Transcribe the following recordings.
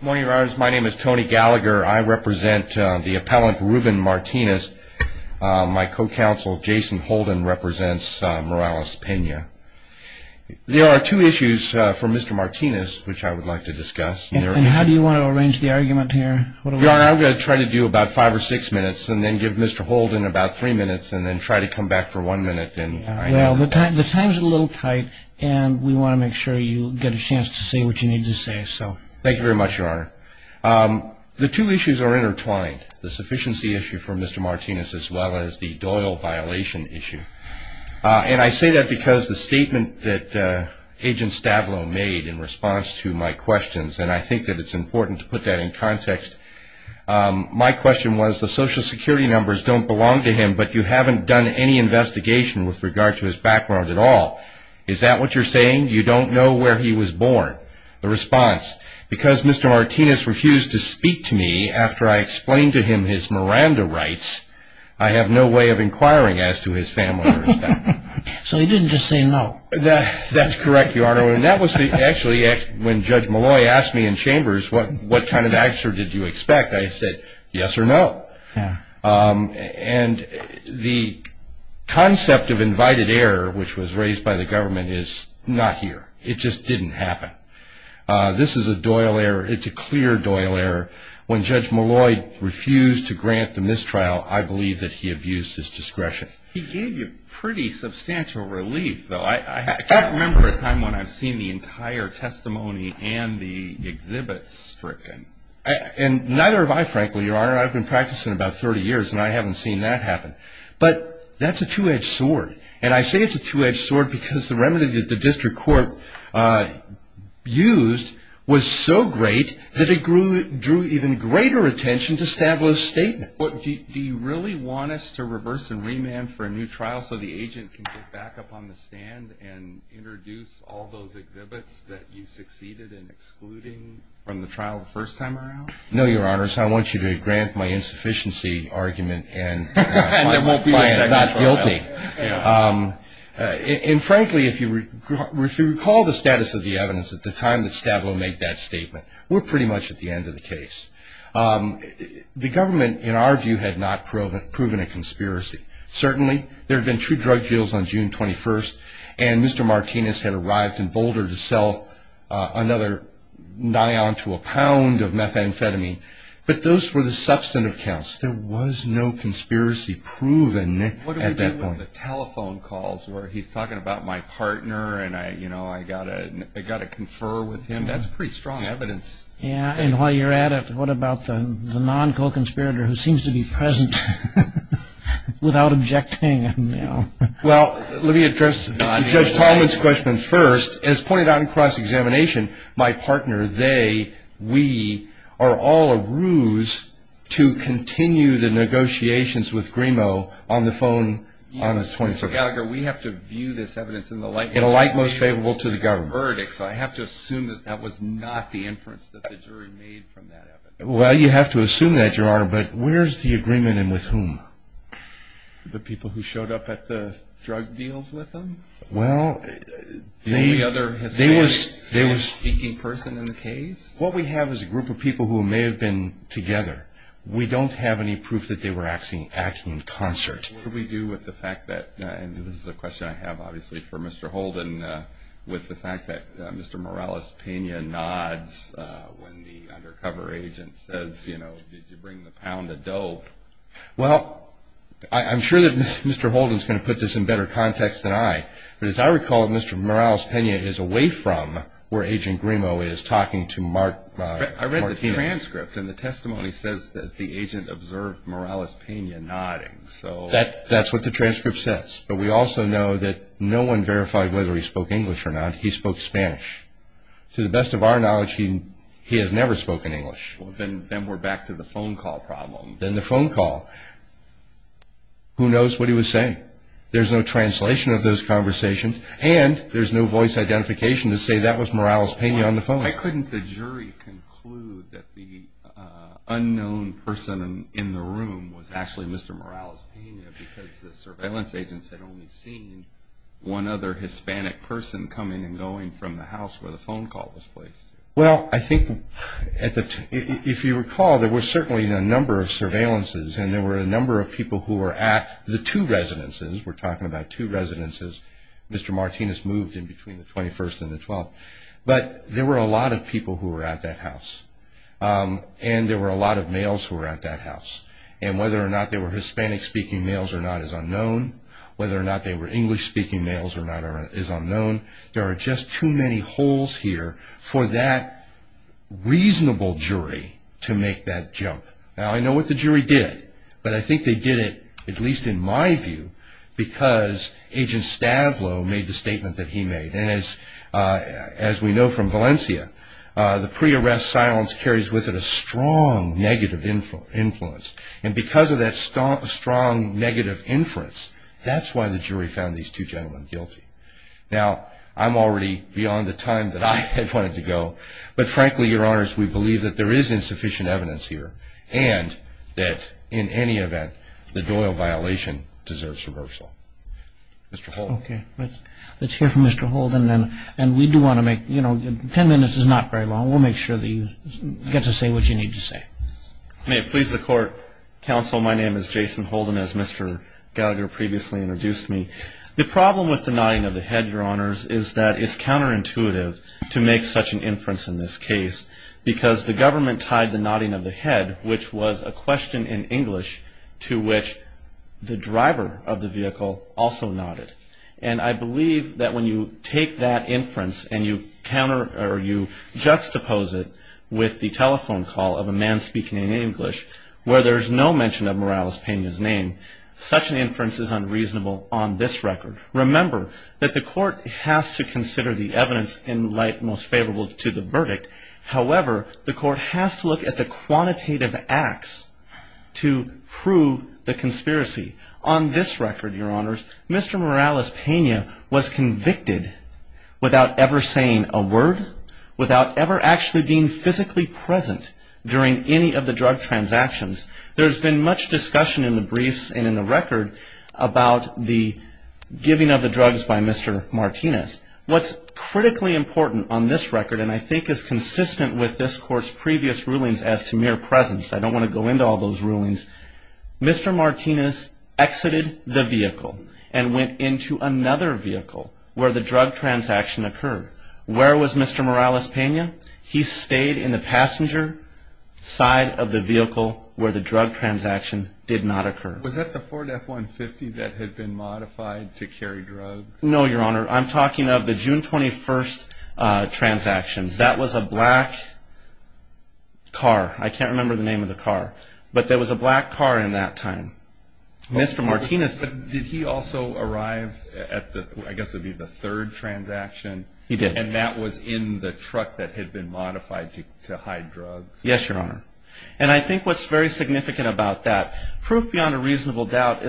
Good morning, Your Honors. My name is Tony Gallagher. I represent the appellant Ruben Martinez. My co-counsel, Jason Holden, represents Morales-Pena. There are two issues for Mr. Martinez which I would like to discuss. And how do you want to arrange the argument here? Your Honor, I'm going to try to do about five or six minutes and then give Mr. Holden about three minutes and then try to come back for one minute. Well, the time's a little tight and we want to make sure you get a chance to say what you need to say. Thank you very much, Your Honor. The two issues are intertwined, the sufficiency issue for Mr. Martinez as well as the Doyle violation issue. And I say that because the statement that Agent Stavrou made in response to my questions, and I think that it's important to put that in context, my question was, the Social Security numbers don't belong to him, but you haven't done any investigation with regard to his background at all. Is that what you're saying? You don't know where he was born? The response, because Mr. Martinez refused to speak to me after I explained to him his Miranda rights, I have no way of inquiring as to his family or his background. So he didn't just say no. That's correct, Your Honor. And that was actually when Judge Malloy asked me in Chambers, what kind of answer did you expect? I said, yes or no. And the concept of invited error, which was raised by the government, is not here. It just didn't happen. This is a Doyle error. It's a clear Doyle error. When Judge Malloy refused to grant the mistrial, I believe that he abused his discretion. He gave you pretty substantial relief, though. I can't remember a time when I've seen the entire testimony and the exhibits stricken. And neither have I, frankly, Your Honor. I've been practicing about 30 years, and I haven't seen that happen. But that's a two-edged sword. And I say it's a two-edged sword because the remedy that the district court used was so great that it drew even greater attention to Stavlow's statement. Do you really want us to reverse and remand for a new trial so the agent can get back up on the stand and introduce all those exhibits that you succeeded in excluding from the trial the first time around? No, Your Honors. I want you to grant my insufficiency argument and find it not guilty. And, frankly, if you recall the status of the evidence at the time that Stavlow made that statement, we're pretty much at the end of the case. The government, in our view, had not proven a conspiracy. Certainly there had been two drug deals on June 21st, and Mr. Martinez had arrived in Boulder to sell another nion to a pound of methamphetamine. But those were the substantive counts. There was no conspiracy proven at that point. What do we do with the telephone calls where he's talking about my partner and, you know, I've got to confer with him? That's pretty strong evidence. Yeah, and while you're at it, what about the non-co-conspirator who seems to be present without objecting? Well, let me address Judge Tallman's question first. As pointed out in cross-examination, my partner, they, we are all a ruse to continue the negotiations with Grimo on the phone on the 24th. Mr. Gallagher, we have to view this evidence in a light most favorable to the government. I have to assume that that was not the inference that the jury made from that evidence. Well, you have to assume that, Your Honor, but where's the agreement and with whom? The people who showed up at the drug deals with him? Well, they were speaking person in the case. What we have is a group of people who may have been together. We don't have any proof that they were acting in concert. What do we do with the fact that, and this is a question I have, obviously, for Mr. Holden, with the fact that Mr. Morales-Pena nods when the undercover agent says, you know, did you bring the pound of dope? Well, I'm sure that Mr. Holden is going to put this in better context than I, but as I recall, Mr. Morales-Pena is away from where Agent Grimo is talking to Mark Pena. I read the transcript, and the testimony says that the agent observed Morales-Pena nodding. That's what the transcript says. But we also know that no one verified whether he spoke English or not. He spoke Spanish. To the best of our knowledge, he has never spoken English. Then we're back to the phone call problem. Then the phone call. Who knows what he was saying? There's no translation of those conversations, and there's no voice identification to say that was Morales-Pena on the phone. Why couldn't the jury conclude that the unknown person in the room was actually Mr. Morales-Pena because the surveillance agents had only seen one other Hispanic person coming and going from the house where the phone call was placed? Well, I think if you recall, there were certainly a number of surveillances, and there were a number of people who were at the two residences. We're talking about two residences. Mr. Martinez moved in between the 21st and the 12th. But there were a lot of people who were at that house, and there were a lot of males who were at that house. And whether or not they were Hispanic-speaking males or not is unknown. Whether or not they were English-speaking males or not is unknown. There are just too many holes here for that reasonable jury to make that jump. Now, I know what the jury did, but I think they did it, at least in my view, because Agent Stavlow made the statement that he made. And as we know from Valencia, the pre-arrest silence carries with it a strong negative influence. And because of that strong negative influence, that's why the jury found these two gentlemen guilty. Now, I'm already beyond the time that I had wanted to go. But frankly, Your Honors, we believe that there is insufficient evidence here and that in any event the Doyle violation deserves reversal. Mr. Holden. Okay. Let's hear from Mr. Holden. And we do want to make, you know, 10 minutes is not very long. We'll make sure that you get to say what you need to say. May it please the Court, Counsel, my name is Jason Holden, as Mr. Gallagher previously introduced me. The problem with the nodding of the head, Your Honors, is that it's counterintuitive to make such an inference in this case because the government tied the nodding of the head, which was a question in English, to which the driver of the vehicle also nodded. And I believe that when you take that inference and you counter or you juxtapose it with the telephone call of a man speaking in English where there's no mention of Morales painting his name, such an inference is unreasonable on this record. Remember that the Court has to consider the evidence in light most favorable to the verdict. However, the Court has to look at the quantitative acts to prove the conspiracy. On this record, Your Honors, Mr. Morales Pena was convicted without ever saying a word, without ever actually being physically present during any of the drug transactions. There's been much discussion in the briefs and in the record about the giving of the drugs by Mr. Martinez. What's critically important on this record, and I think is consistent with this Court's previous rulings as to mere presence, I don't want to go into all those rulings, Mr. Martinez exited the vehicle and went into another vehicle where the drug transaction occurred. Where was Mr. Morales Pena? He stayed in the passenger side of the vehicle where the drug transaction did not occur. Was that the Ford F-150 that had been modified to carry drugs? No, Your Honor, I'm talking of the June 21st transactions. That was a black car. I can't remember the name of the car, but there was a black car in that time. Did he also arrive at the, I guess it would be the third transaction? He did. And that was in the truck that had been modified to hide drugs? Yes, Your Honor. And I think what's very significant about that, proof beyond a reasonable doubt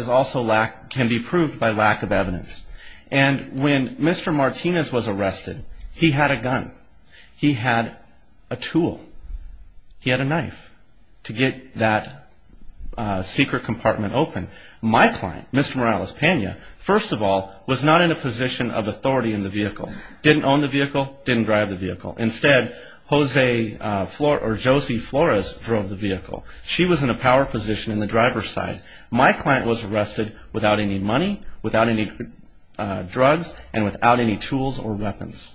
can be proved by lack of evidence. And when Mr. Martinez was arrested, he had a gun. He had a tool. He had a knife to get that secret compartment open. My client, Mr. Morales Pena, first of all, was not in a position of authority in the vehicle, didn't own the vehicle, didn't drive the vehicle. Instead, Jose Flores drove the vehicle. She was in a power position in the driver's side. My client was arrested without any money, without any drugs, and without any tools or weapons.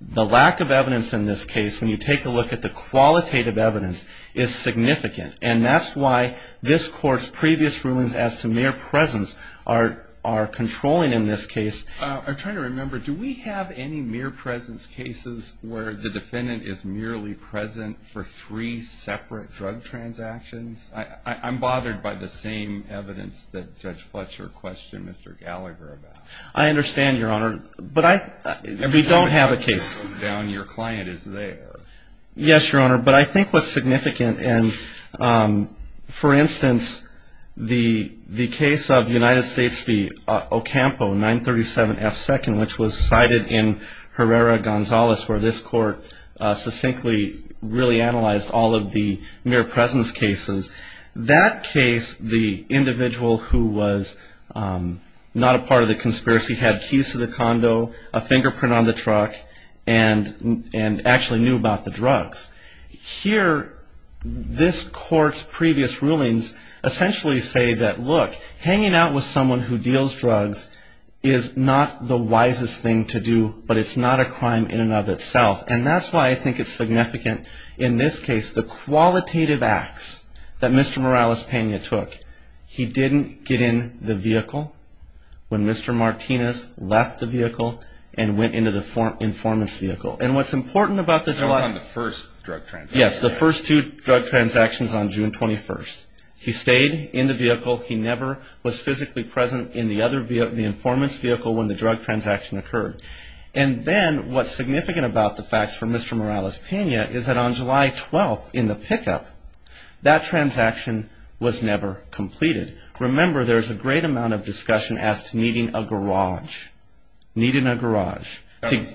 The lack of evidence in this case, when you take a look at the qualitative evidence, is significant. And that's why this Court's previous rulings as to mere presence are controlling in this case. I'm trying to remember, do we have any mere presence cases where the defendant is merely present for three separate drug transactions? I'm bothered by the same evidence that Judge Fletcher questioned Mr. Gallagher about. I understand, Your Honor, but I don't have a case. Your client is there. Yes, Your Honor, but I think what's significant, and, for instance, the case of United States v. Ocampo, 937F2nd, which was cited in Herrera-Gonzalez, where this Court succinctly really analyzed all of the mere presence cases. That case, the individual who was not a part of the conspiracy had keys to the condo, a fingerprint on the truck, and actually knew about the drugs. Here, this Court's previous rulings essentially say that, look, hanging out with someone who deals drugs is not the wisest thing to do, but it's not a crime in and of itself. And that's why I think it's significant in this case, the qualitative acts that Mr. Morales-Pena took. He didn't get in the vehicle when Mr. Martinez left the vehicle and went into the informant's vehicle. And what's important about the drug... They were on the first drug transaction. Yes, the first two drug transactions on June 21st. He stayed in the vehicle. He never was physically present in the informant's vehicle when the drug transaction occurred. And then what's significant about the facts for Mr. Morales-Pena is that on July 12th in the pickup, that transaction was never completed. Remember, there's a great amount of discussion as to needing a garage, needing a garage. Okay,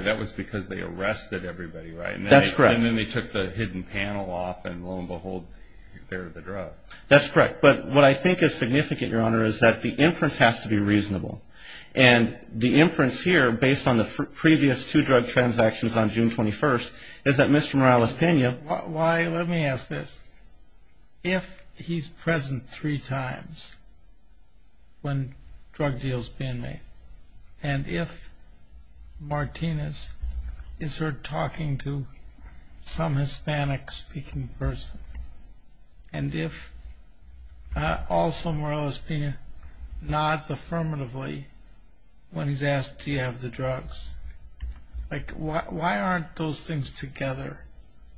that was because they arrested everybody, right? That's correct. And then they took the hidden panel off, and lo and behold, there are the drugs. That's correct. But what I think is significant, Your Honor, is that the inference has to be reasonable. And the inference here, based on the previous two drug transactions on June 21st, is that Mr. Morales-Pena... Why, let me ask this. If he's present three times when drug deals are being made, and if Martinez is heard talking to some Hispanic-speaking person, and if also Morales-Pena nods affirmatively when he's asked, do you have the drugs, like why aren't those things together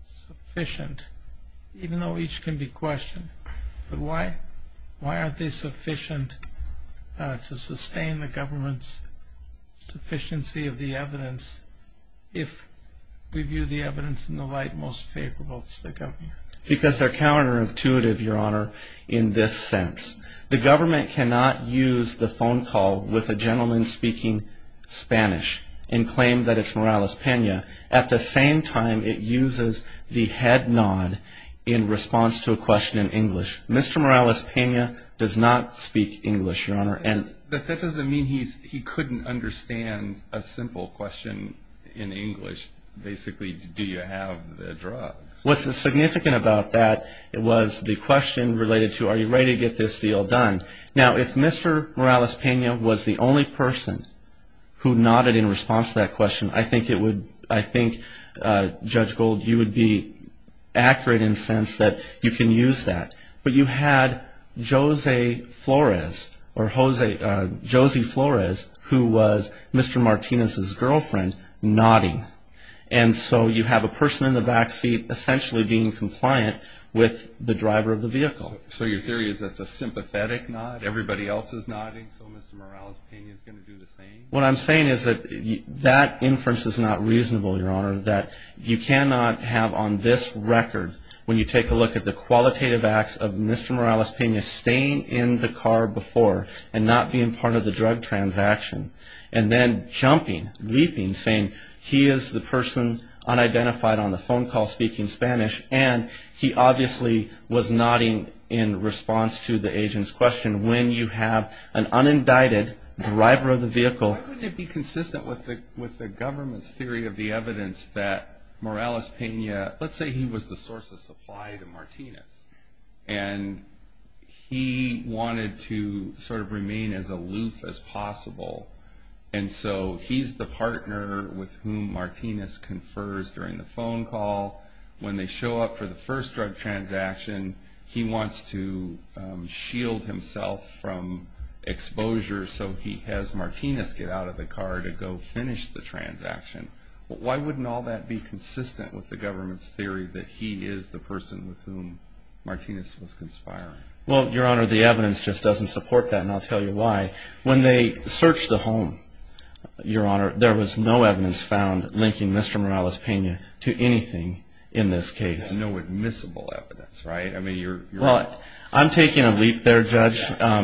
sufficient, even though each can be questioned? But why aren't they sufficient to sustain the government's sufficiency of the evidence if we view the evidence in the light most favorable to the government? Because they're counterintuitive, Your Honor, in this sense. The government cannot use the phone call with a gentleman speaking Spanish and claim that it's Morales-Pena. At the same time, it uses the head nod in response to a question in English. Mr. Morales-Pena does not speak English, Your Honor. But that doesn't mean he couldn't understand a simple question in English. Basically, do you have the drugs? What's significant about that was the question related to, are you ready to get this deal done? Now, if Mr. Morales-Pena was the only person who nodded in response to that question, I think, Judge Gold, you would be accurate in the sense that you can use that. But you had Jose Flores, or Josie Flores, who was Mr. Martinez's girlfriend, nodding. And so you have a person in the backseat essentially being compliant with the driver of the vehicle. So your theory is that's a sympathetic nod? Everybody else is nodding, so Mr. Morales-Pena is going to do the same? What I'm saying is that that inference is not reasonable, Your Honor, that you cannot have on this record, when you take a look at the qualitative acts of Mr. Morales-Pena staying in the car before and not being part of the drug transaction, and then jumping, leaping, saying he is the person unidentified on the phone call speaking Spanish, and he obviously was nodding in response to the agent's question, when you have an unindicted driver of the vehicle. Why wouldn't it be consistent with the government's theory of the evidence that Morales-Pena, let's say he was the source of supply to Martinez, and he wanted to sort of remain as aloof as possible. And so he's the partner with whom Martinez confers during the phone call. When they show up for the first drug transaction, he wants to shield himself from exposure, so he has Martinez get out of the car to go finish the transaction. Why wouldn't all that be consistent with the government's theory that he is the person with whom Martinez was conspiring? Well, Your Honor, the evidence just doesn't support that, and I'll tell you why. When they searched the home, Your Honor, there was no evidence found linking Mr. Morales-Pena to anything in this case. No admissible evidence, right? Well, I'm taking a leap there, Judge.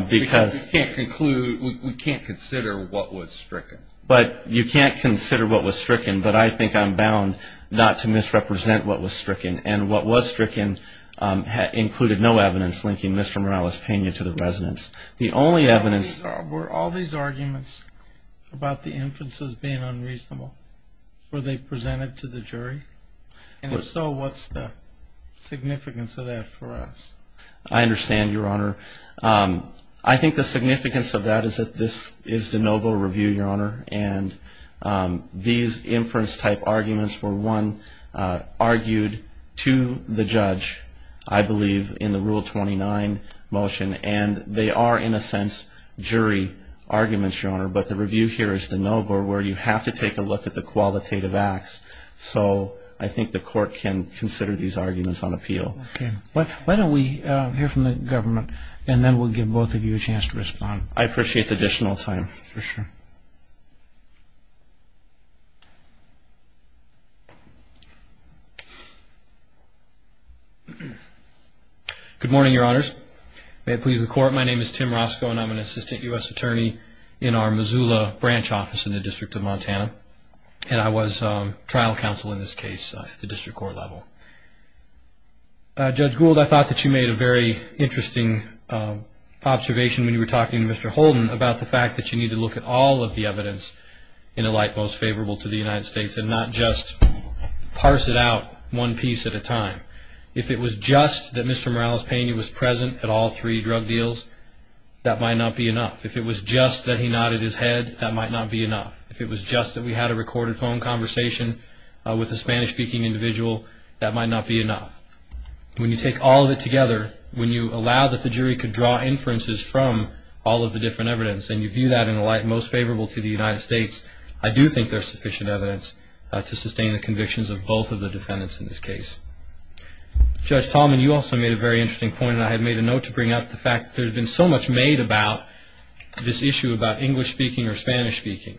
Because we can't consider what was stricken. But you can't consider what was stricken, but I think I'm bound not to misrepresent what was stricken. And what was stricken included no evidence linking Mr. Morales-Pena to the residence. Were all these arguments about the inferences being unreasonable? Were they presented to the jury? And if so, what's the significance of that for us? I understand, Your Honor. I think the significance of that is that this is de novo review, Your Honor. And these inference-type arguments were, one, argued to the judge, I believe, in the Rule 29 motion. And they are, in a sense, jury arguments, Your Honor. But the review here is de novo, where you have to take a look at the qualitative acts. So I think the court can consider these arguments on appeal. Okay. Why don't we hear from the government, and then we'll give both of you a chance to respond. I appreciate the additional time. For sure. Good morning, Your Honors. May it please the Court, my name is Tim Roscoe, and I'm an assistant U.S. attorney in our Missoula branch office in the District of Montana. And I was trial counsel in this case at the district court level. Judge Gould, I thought that you made a very interesting observation when you were talking to Mr. Holden about the fact that you need to look at all of the evidence in a light most favorable to the United States and not just parse it out one piece at a time. If it was just that Mr. Morales-Pena was present at all three drug deals, that might not be enough. If it was just that he nodded his head, that might not be enough. If it was just that we had a recorded phone conversation with a Spanish-speaking individual, that might not be enough. When you take all of it together, when you allow that the jury could draw inferences from all of the different evidence and you view that in a light most favorable to the United States, I do think there's sufficient evidence to sustain the convictions of both of the defendants in this case. Judge Tallman, you also made a very interesting point, and I had made a note to bring up the fact that there had been so much made about this issue about English-speaking or Spanish-speaking.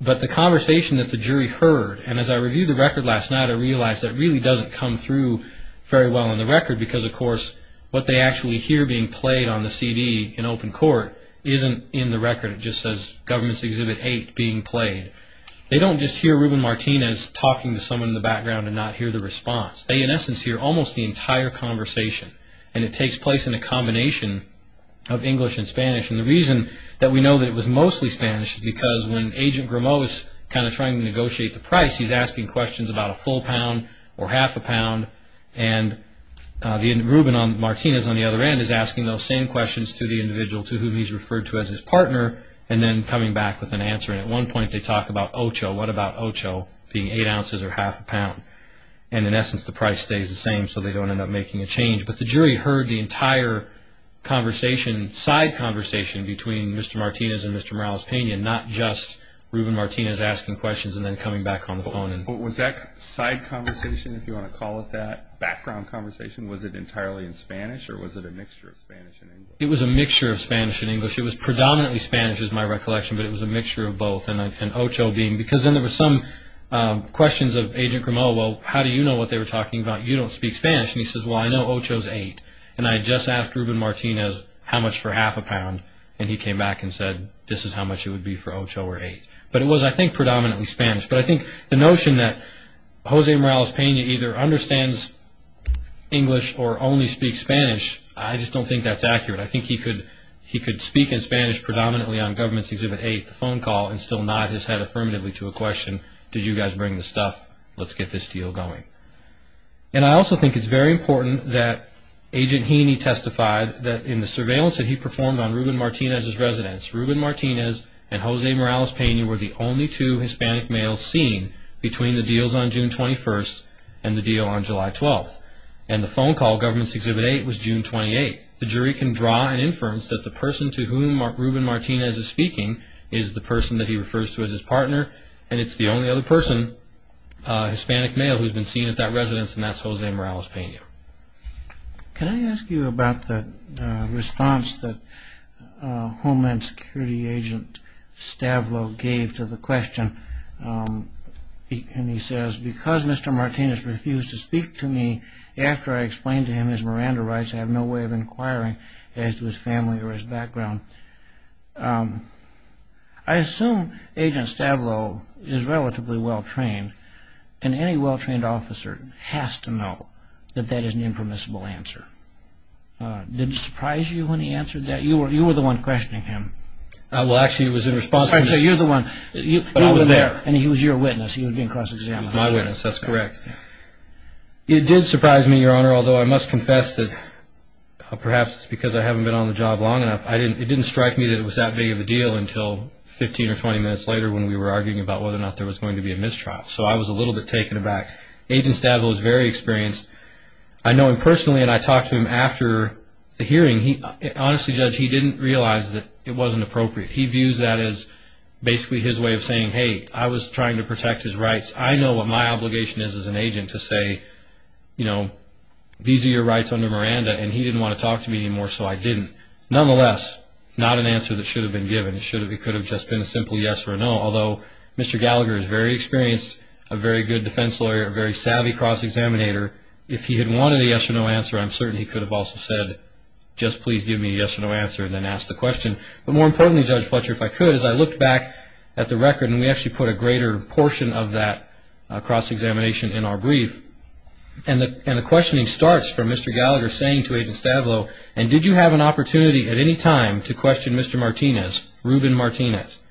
But the conversation that the jury heard, and as I reviewed the record last night, I realized that really doesn't come through very well in the record because, of course, what they actually hear being played on the CD in open court isn't in the record. It just says, Government's Exhibit 8 being played. They don't just hear Ruben Martinez talking to someone in the background and not hear the response. They, in essence, hear almost the entire conversation, and it takes place in a combination of English and Spanish. And the reason that we know that it was mostly Spanish is because when Agent Grimaud is kind of trying to negotiate the price, he's asking questions about a full pound or half a pound, and Ruben Martinez on the other end is asking those same questions to the individual, to whom he's referred to as his partner, and then coming back with an answer. And at one point, they talk about Ocho. What about Ocho being eight ounces or half a pound? And, in essence, the price stays the same, so they don't end up making a change. But the jury heard the entire conversation, side conversation, between Mr. Martinez and Mr. Morales-Pena, not just Ruben Martinez asking questions and then coming back on the phone. Was that side conversation, if you want to call it that, background conversation, was it entirely in Spanish or was it a mixture of Spanish and English? It was a mixture of Spanish and English. It was predominantly Spanish, is my recollection, but it was a mixture of both, because then there were some questions of Agent Grimaud, well, how do you know what they were talking about? You don't speak Spanish. And he says, well, I know Ocho is eight. And I just asked Ruben Martinez how much for half a pound, and he came back and said this is how much it would be for Ocho or eight. But it was, I think, predominantly Spanish. But I think the notion that Jose Morales-Pena either understands English or only speaks Spanish, I just don't think that's accurate. I think he could speak in Spanish predominantly on Government's Exhibit 8, the phone call, and still nod his head affirmatively to a question, did you guys bring the stuff? Let's get this deal going. And I also think it's very important that Agent Heaney testified that in the surveillance that he performed on Ruben Martinez's residence, Ruben Martinez and Jose Morales-Pena were the only two Hispanic males seen between the deals on June 21st and the deal on July 12th. And the phone call, Government's Exhibit 8, was June 28th. The jury can draw an inference that the person to whom Ruben Martinez is speaking is the person that he refers to as his partner, and it's the only other person, Hispanic male, who's been seen at that residence, and that's Jose Morales-Pena. Can I ask you about the response that Homeland Security Agent Stavlow gave to the question? And he says, because Mr. Martinez refused to speak to me after I explained to him, and as Miranda writes, I have no way of inquiring as to his family or his background. I assume Agent Stavlow is relatively well-trained, and any well-trained officer has to know that that is an impermissible answer. Did it surprise you when he answered that? You were the one questioning him. Well, actually, it was in response. So you're the one. I was there. And he was your witness. He was being cross-examined. He was my witness. That's correct. It did surprise me, Your Honor, although I must confess that perhaps it's because I haven't been on the job long enough. It didn't strike me that it was that big of a deal until 15 or 20 minutes later when we were arguing about whether or not there was going to be a mistrial. So I was a little bit taken aback. Agent Stavlow is very experienced. I know him personally, and I talked to him after the hearing. Honestly, Judge, he didn't realize that it wasn't appropriate. He views that as basically his way of saying, hey, I was trying to protect his rights. I know what my obligation is as an agent to say, you know, these are your rights under Miranda, and he didn't want to talk to me anymore, so I didn't. Nonetheless, not an answer that should have been given. It could have just been a simple yes or no, although Mr. Gallagher is very experienced, a very good defense lawyer, a very savvy cross-examinator. If he had wanted a yes or no answer, I'm certain he could have also said, just please give me a yes or no answer and then asked the question. But more importantly, Judge Fletcher, if I could, is I looked back at the record, and we actually put a greater portion of that cross-examination in our brief. And the questioning starts from Mr. Gallagher saying to Agent Stavlow, and did you have an opportunity at any time to question Mr. Martinez, Ruben Martinez?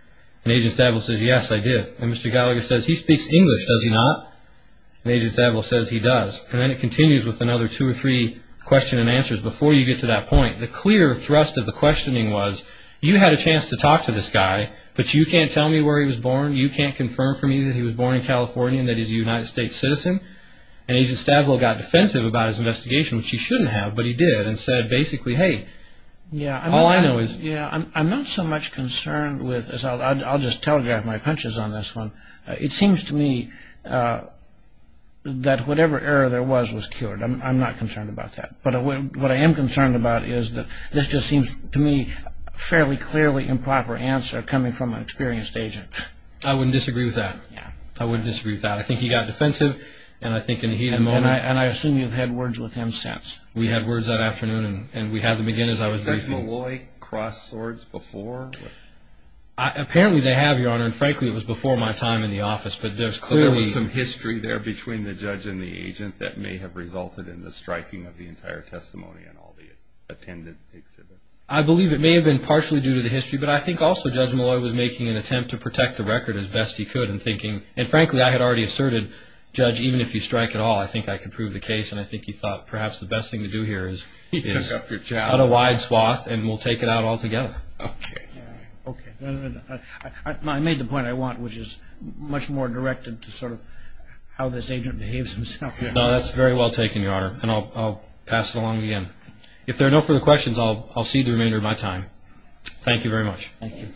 And Agent Stavlow says, yes, I did. And Mr. Gallagher says, he speaks English, does he not? And Agent Stavlow says, he does. And then it continues with another two or three questions and answers before you get to that point. The clear thrust of the questioning was, you had a chance to talk to this guy, but you can't tell me where he was born, you can't confirm for me that he was born in California and that he's a United States citizen. And Agent Stavlow got defensive about his investigation, which he shouldn't have, but he did and said basically, hey, all I know is. I'm not so much concerned with, I'll just telegraph my punches on this one. It seems to me that whatever error there was was cured. I'm not concerned about that. But what I am concerned about is that this just seems to me a fairly clearly improper answer coming from an experienced agent. I wouldn't disagree with that. I wouldn't disagree with that. I think he got defensive, and I think in the heat of the moment. And I assume you've had words with him since. We had words that afternoon, and we had them again as I was briefing. Did Meloy cross swords before? Apparently they have, Your Honor, and frankly it was before my time in the office, but there's clearly. There was some history there between the judge and the agent that may have resulted in the striking of the entire testimony and all the attendant exhibits. I believe it may have been partially due to the history, but I think also Judge Meloy was making an attempt to protect the record as best he could and frankly I had already asserted, Judge, even if you strike at all, I think I can prove the case, and I think he thought perhaps the best thing to do here is cut a wide swath and we'll take it out all together. Okay. I made the point I want, which is much more directed to sort of how this agent behaves himself. No, that's very well taken, Your Honor, and I'll pass it along again. If there are no further questions, I'll cede the remainder of my time. Thank you very much. Thank you.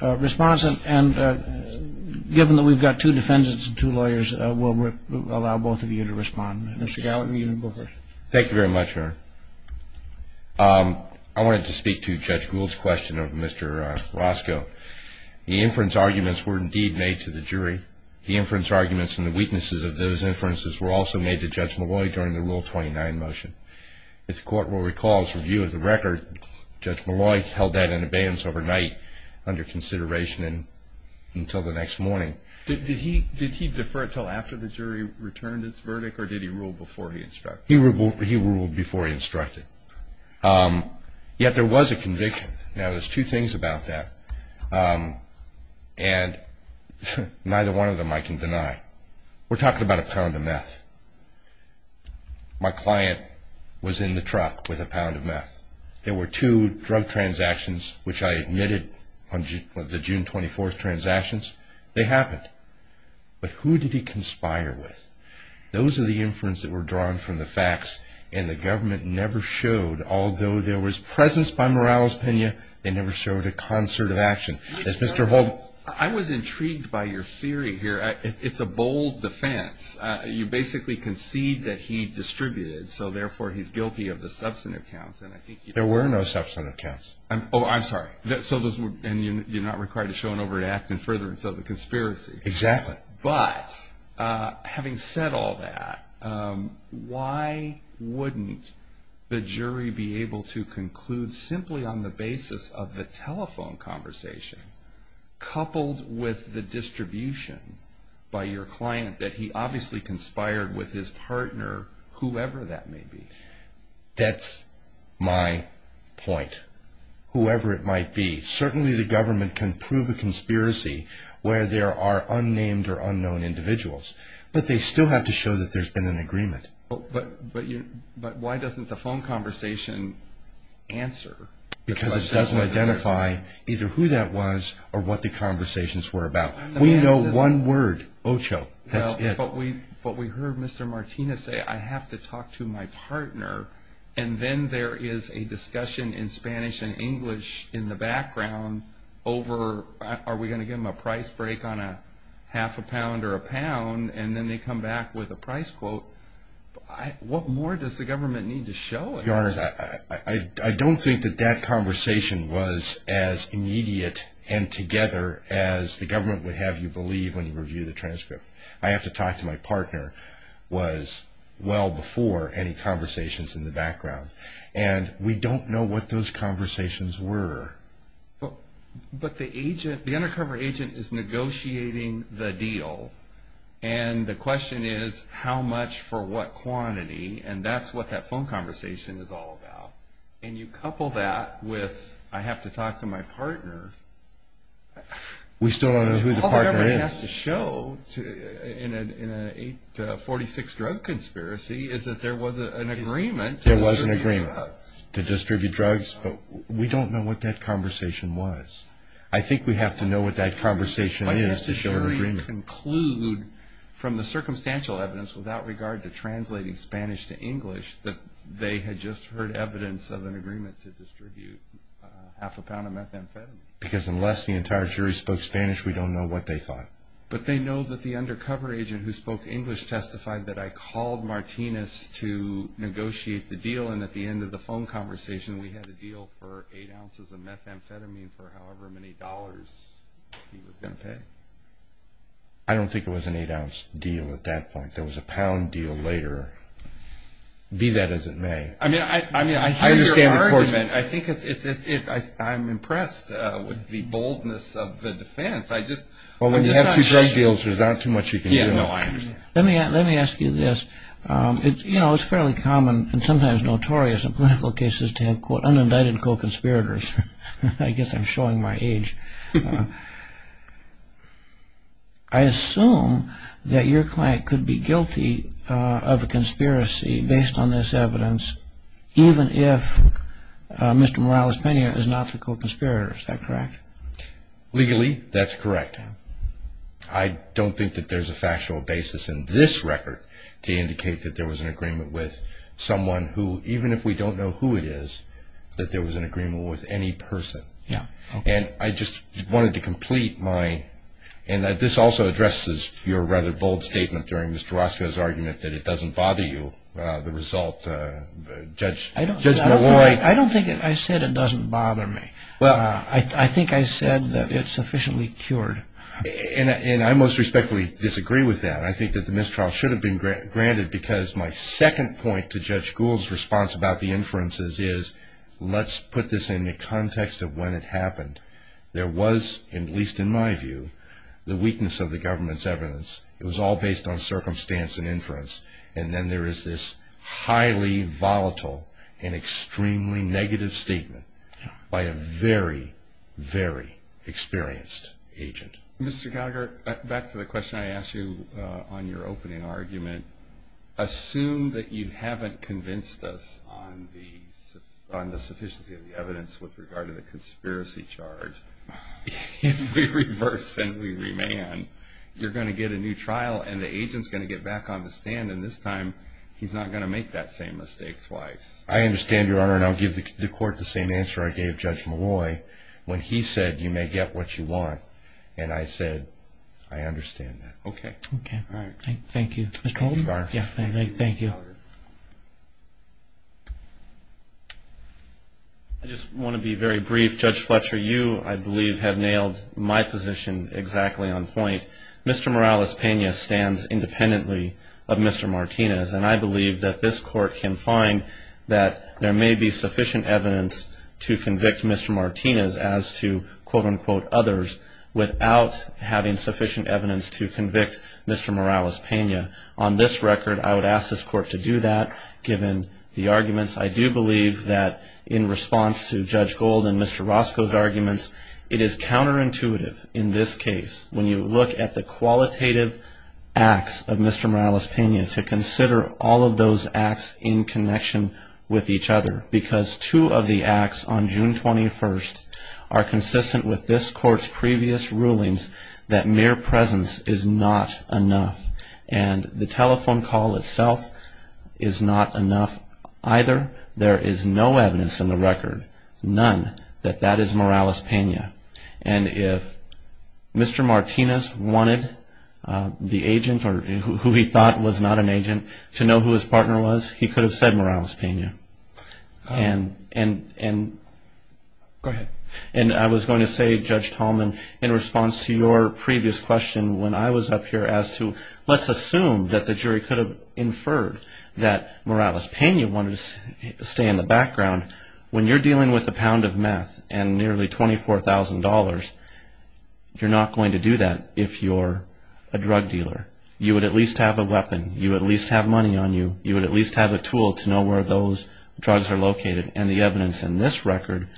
Response, and given that we've got two defendants and two lawyers, we'll allow both of you to respond. Mr. Gallagher, you go first. Thank you very much, Your Honor. I wanted to speak to Judge Gould's question of Mr. Roscoe. The inference arguments were indeed made to the jury. The inference arguments and the weaknesses of those inferences were also made to Judge Molloy during the Rule 29 motion. If the Court will recall his review of the record, Judge Molloy held that in abeyance overnight under consideration until the next morning. Did he defer until after the jury returned its verdict, or did he rule before he instructed? He ruled before he instructed. Yet there was a conviction. Now, there's two things about that. And neither one of them I can deny. We're talking about a pound of meth. My client was in the truck with a pound of meth. There were two drug transactions which I admitted on the June 24th transactions. They happened. But who did he conspire with? Those are the inference that were drawn from the facts, and the government never showed, although there was presence by Morales-Pena, they never showed a concert of action. Yes, Mr. Holt? I was intrigued by your theory here. It's a bold defense. You basically concede that he distributed, so therefore he's guilty of the substantive counts. There were no substantive counts. Oh, I'm sorry. And you're not required to show an overreact in furtherance of the conspiracy. Exactly. But having said all that, why wouldn't the jury be able to conclude simply on the basis of the telephone conversation, coupled with the distribution by your client that he obviously conspired with his partner, whoever that may be? That's my point, whoever it might be. Certainly the government can prove a conspiracy where there are unnamed or unknown individuals, but they still have to show that there's been an agreement. But why doesn't the phone conversation answer the question? Because it doesn't identify either who that was or what the conversations were about. We know one word, Ocho, that's it. But we heard Mr. Martinez say, I have to talk to my partner, and then there is a discussion in Spanish and English in the background over, are we going to give them a price break on a half a pound or a pound, and then they come back with a price quote. What more does the government need to show? Your Honor, I don't think that that conversation was as immediate and together as the government would have you believe when you review the transcript. I have to talk to my partner was well before any conversations in the background. And we don't know what those conversations were. But the undercover agent is negotiating the deal, and the question is how much for what quantity, and that's what that phone conversation is all about. And you couple that with I have to talk to my partner. We still don't know who the partner is. All government has to show in an 846 drug conspiracy is that there was an agreement. There was an agreement to distribute drugs, but we don't know what that conversation was. I think we have to know what that conversation is to show an agreement. But does the jury conclude from the circumstantial evidence without regard to translating Spanish to English that they had just heard evidence of an agreement to distribute half a pound of methamphetamine? Because unless the entire jury spoke Spanish, we don't know what they thought. But they know that the undercover agent who spoke English testified that I called Martinez to negotiate the deal, and at the end of the phone conversation, we had a deal for eight ounces of methamphetamine for however many dollars he was going to pay. I don't think it was an eight-ounce deal at that point. There was a pound deal later, be that as it may. I mean, I hear your argument. I think it's – I'm impressed with the boldness of the defense. I just – Well, when you have two drug deals, there's not too much you can do. Yeah, no, I understand. Let me ask you this. You know, it's fairly common and sometimes notorious in political cases to have, quote, unindicted co-conspirators. I guess I'm showing my age. I assume that your client could be guilty of a conspiracy based on this evidence even if Mr. Morales-Pena is not the co-conspirator. Is that correct? Legally, that's correct. I don't think that there's a factual basis in this record to indicate that there was an agreement with someone who, even if we don't know who it is, that there was an agreement with any person. And I just wanted to complete my – and this also addresses your rather bold statement during Mr. Orozco's argument that it doesn't bother you, the result, Judge Malloy. I don't think I said it doesn't bother me. I think I said that it's sufficiently cured. And I most respectfully disagree with that. I think that the mistrial should have been granted because my second point to Judge Gould's response about the inferences is, let's put this in the context of when it happened. There was, at least in my view, the weakness of the government's evidence. It was all based on circumstance and inference. And then there is this highly volatile and extremely negative statement by a very, very experienced agent. Mr. Gallagher, back to the question I asked you on your opening argument. Assume that you haven't convinced us on the sufficiency of the evidence with regard to the conspiracy charge. If we reverse and we remand, you're going to get a new trial and the agent's going to get back on the stand, and this time he's not going to make that same mistake twice. I understand, Your Honor, and I'll give the Court the same answer I gave Judge Malloy when he said, you may get what you want. And I said, I understand that. Okay. Okay, all right. Thank you. Mr. Holden? Your Honor. Thank you. I just want to be very brief. Judge Fletcher, you, I believe, have nailed my position exactly on point. Mr. Morales-Pena stands independently of Mr. Martinez, and I believe that this Court can find that there may be sufficient evidence to convict Mr. Martinez as to, quote-unquote, others without having sufficient evidence to convict Mr. Morales-Pena. On this record, I would ask this Court to do that given the arguments. I do believe that in response to Judge Gold and Mr. Roscoe's arguments, it is counterintuitive in this case. When you look at the qualitative acts of Mr. Morales-Pena, to consider all of those acts in connection with each other, because two of the acts on June 21st are consistent with this Court's previous rulings that mere presence is not enough, and the telephone call itself is not enough either. There is no evidence in the record, none, that that is Morales-Pena. And if Mr. Martinez wanted the agent, or who he thought was not an agent, to know who his partner was, he could have said Morales-Pena. And I was going to say, Judge Tallman, in response to your previous question, when I was up here as to let's assume that the jury could have inferred that Morales-Pena wanted to stay in the background, when you're dealing with a pound of meth and nearly $24,000, you're not going to do that if you're a drug dealer. You would at least have a weapon. You would at least have money on you. You would at least have a tool to know where those drugs are located. And the evidence in this record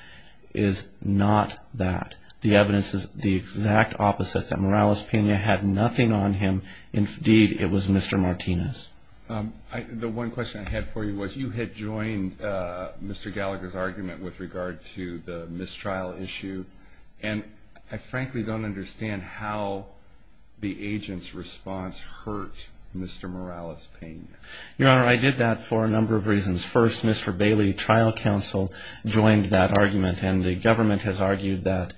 is not that. The evidence is the exact opposite, that Morales-Pena had nothing on him. Indeed, it was Mr. Martinez. The one question I had for you was you had joined Mr. Gallagher's argument with regard to the mistrial issue, and I frankly don't understand how the agent's response hurt Mr. Morales-Pena. Your Honor, I did that for a number of reasons. First, Mr. Bailey, trial counsel, joined that argument, and the government has argued that,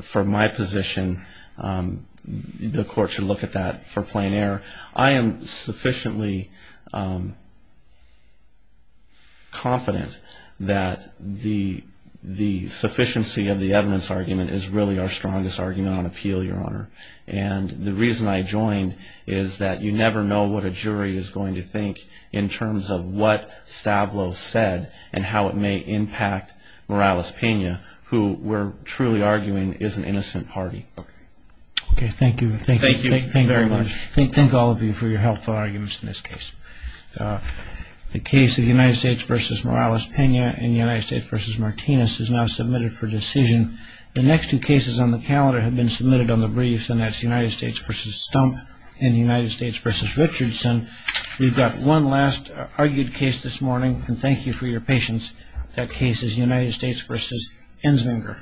for my position, the court should look at that for plain error. I am sufficiently confident that the sufficiency of the evidence argument is really our strongest argument on appeal, Your Honor. And the reason I joined is that you never know what a jury is going to think in terms of what Stavlos said and how it may impact Morales-Pena, who we're truly arguing is an innocent party. Okay. Okay. Thank you. Thank you very much. Thank all of you for your helpful arguments in this case. The case of United States v. Morales-Pena and United States v. Martinez is now submitted for decision. The next two cases on the calendar have been submitted on the briefs, and that's United States v. Stump and United States v. Richardson. We've got one last argued case this morning, and thank you for your patience. That case is United States v. Enslinger.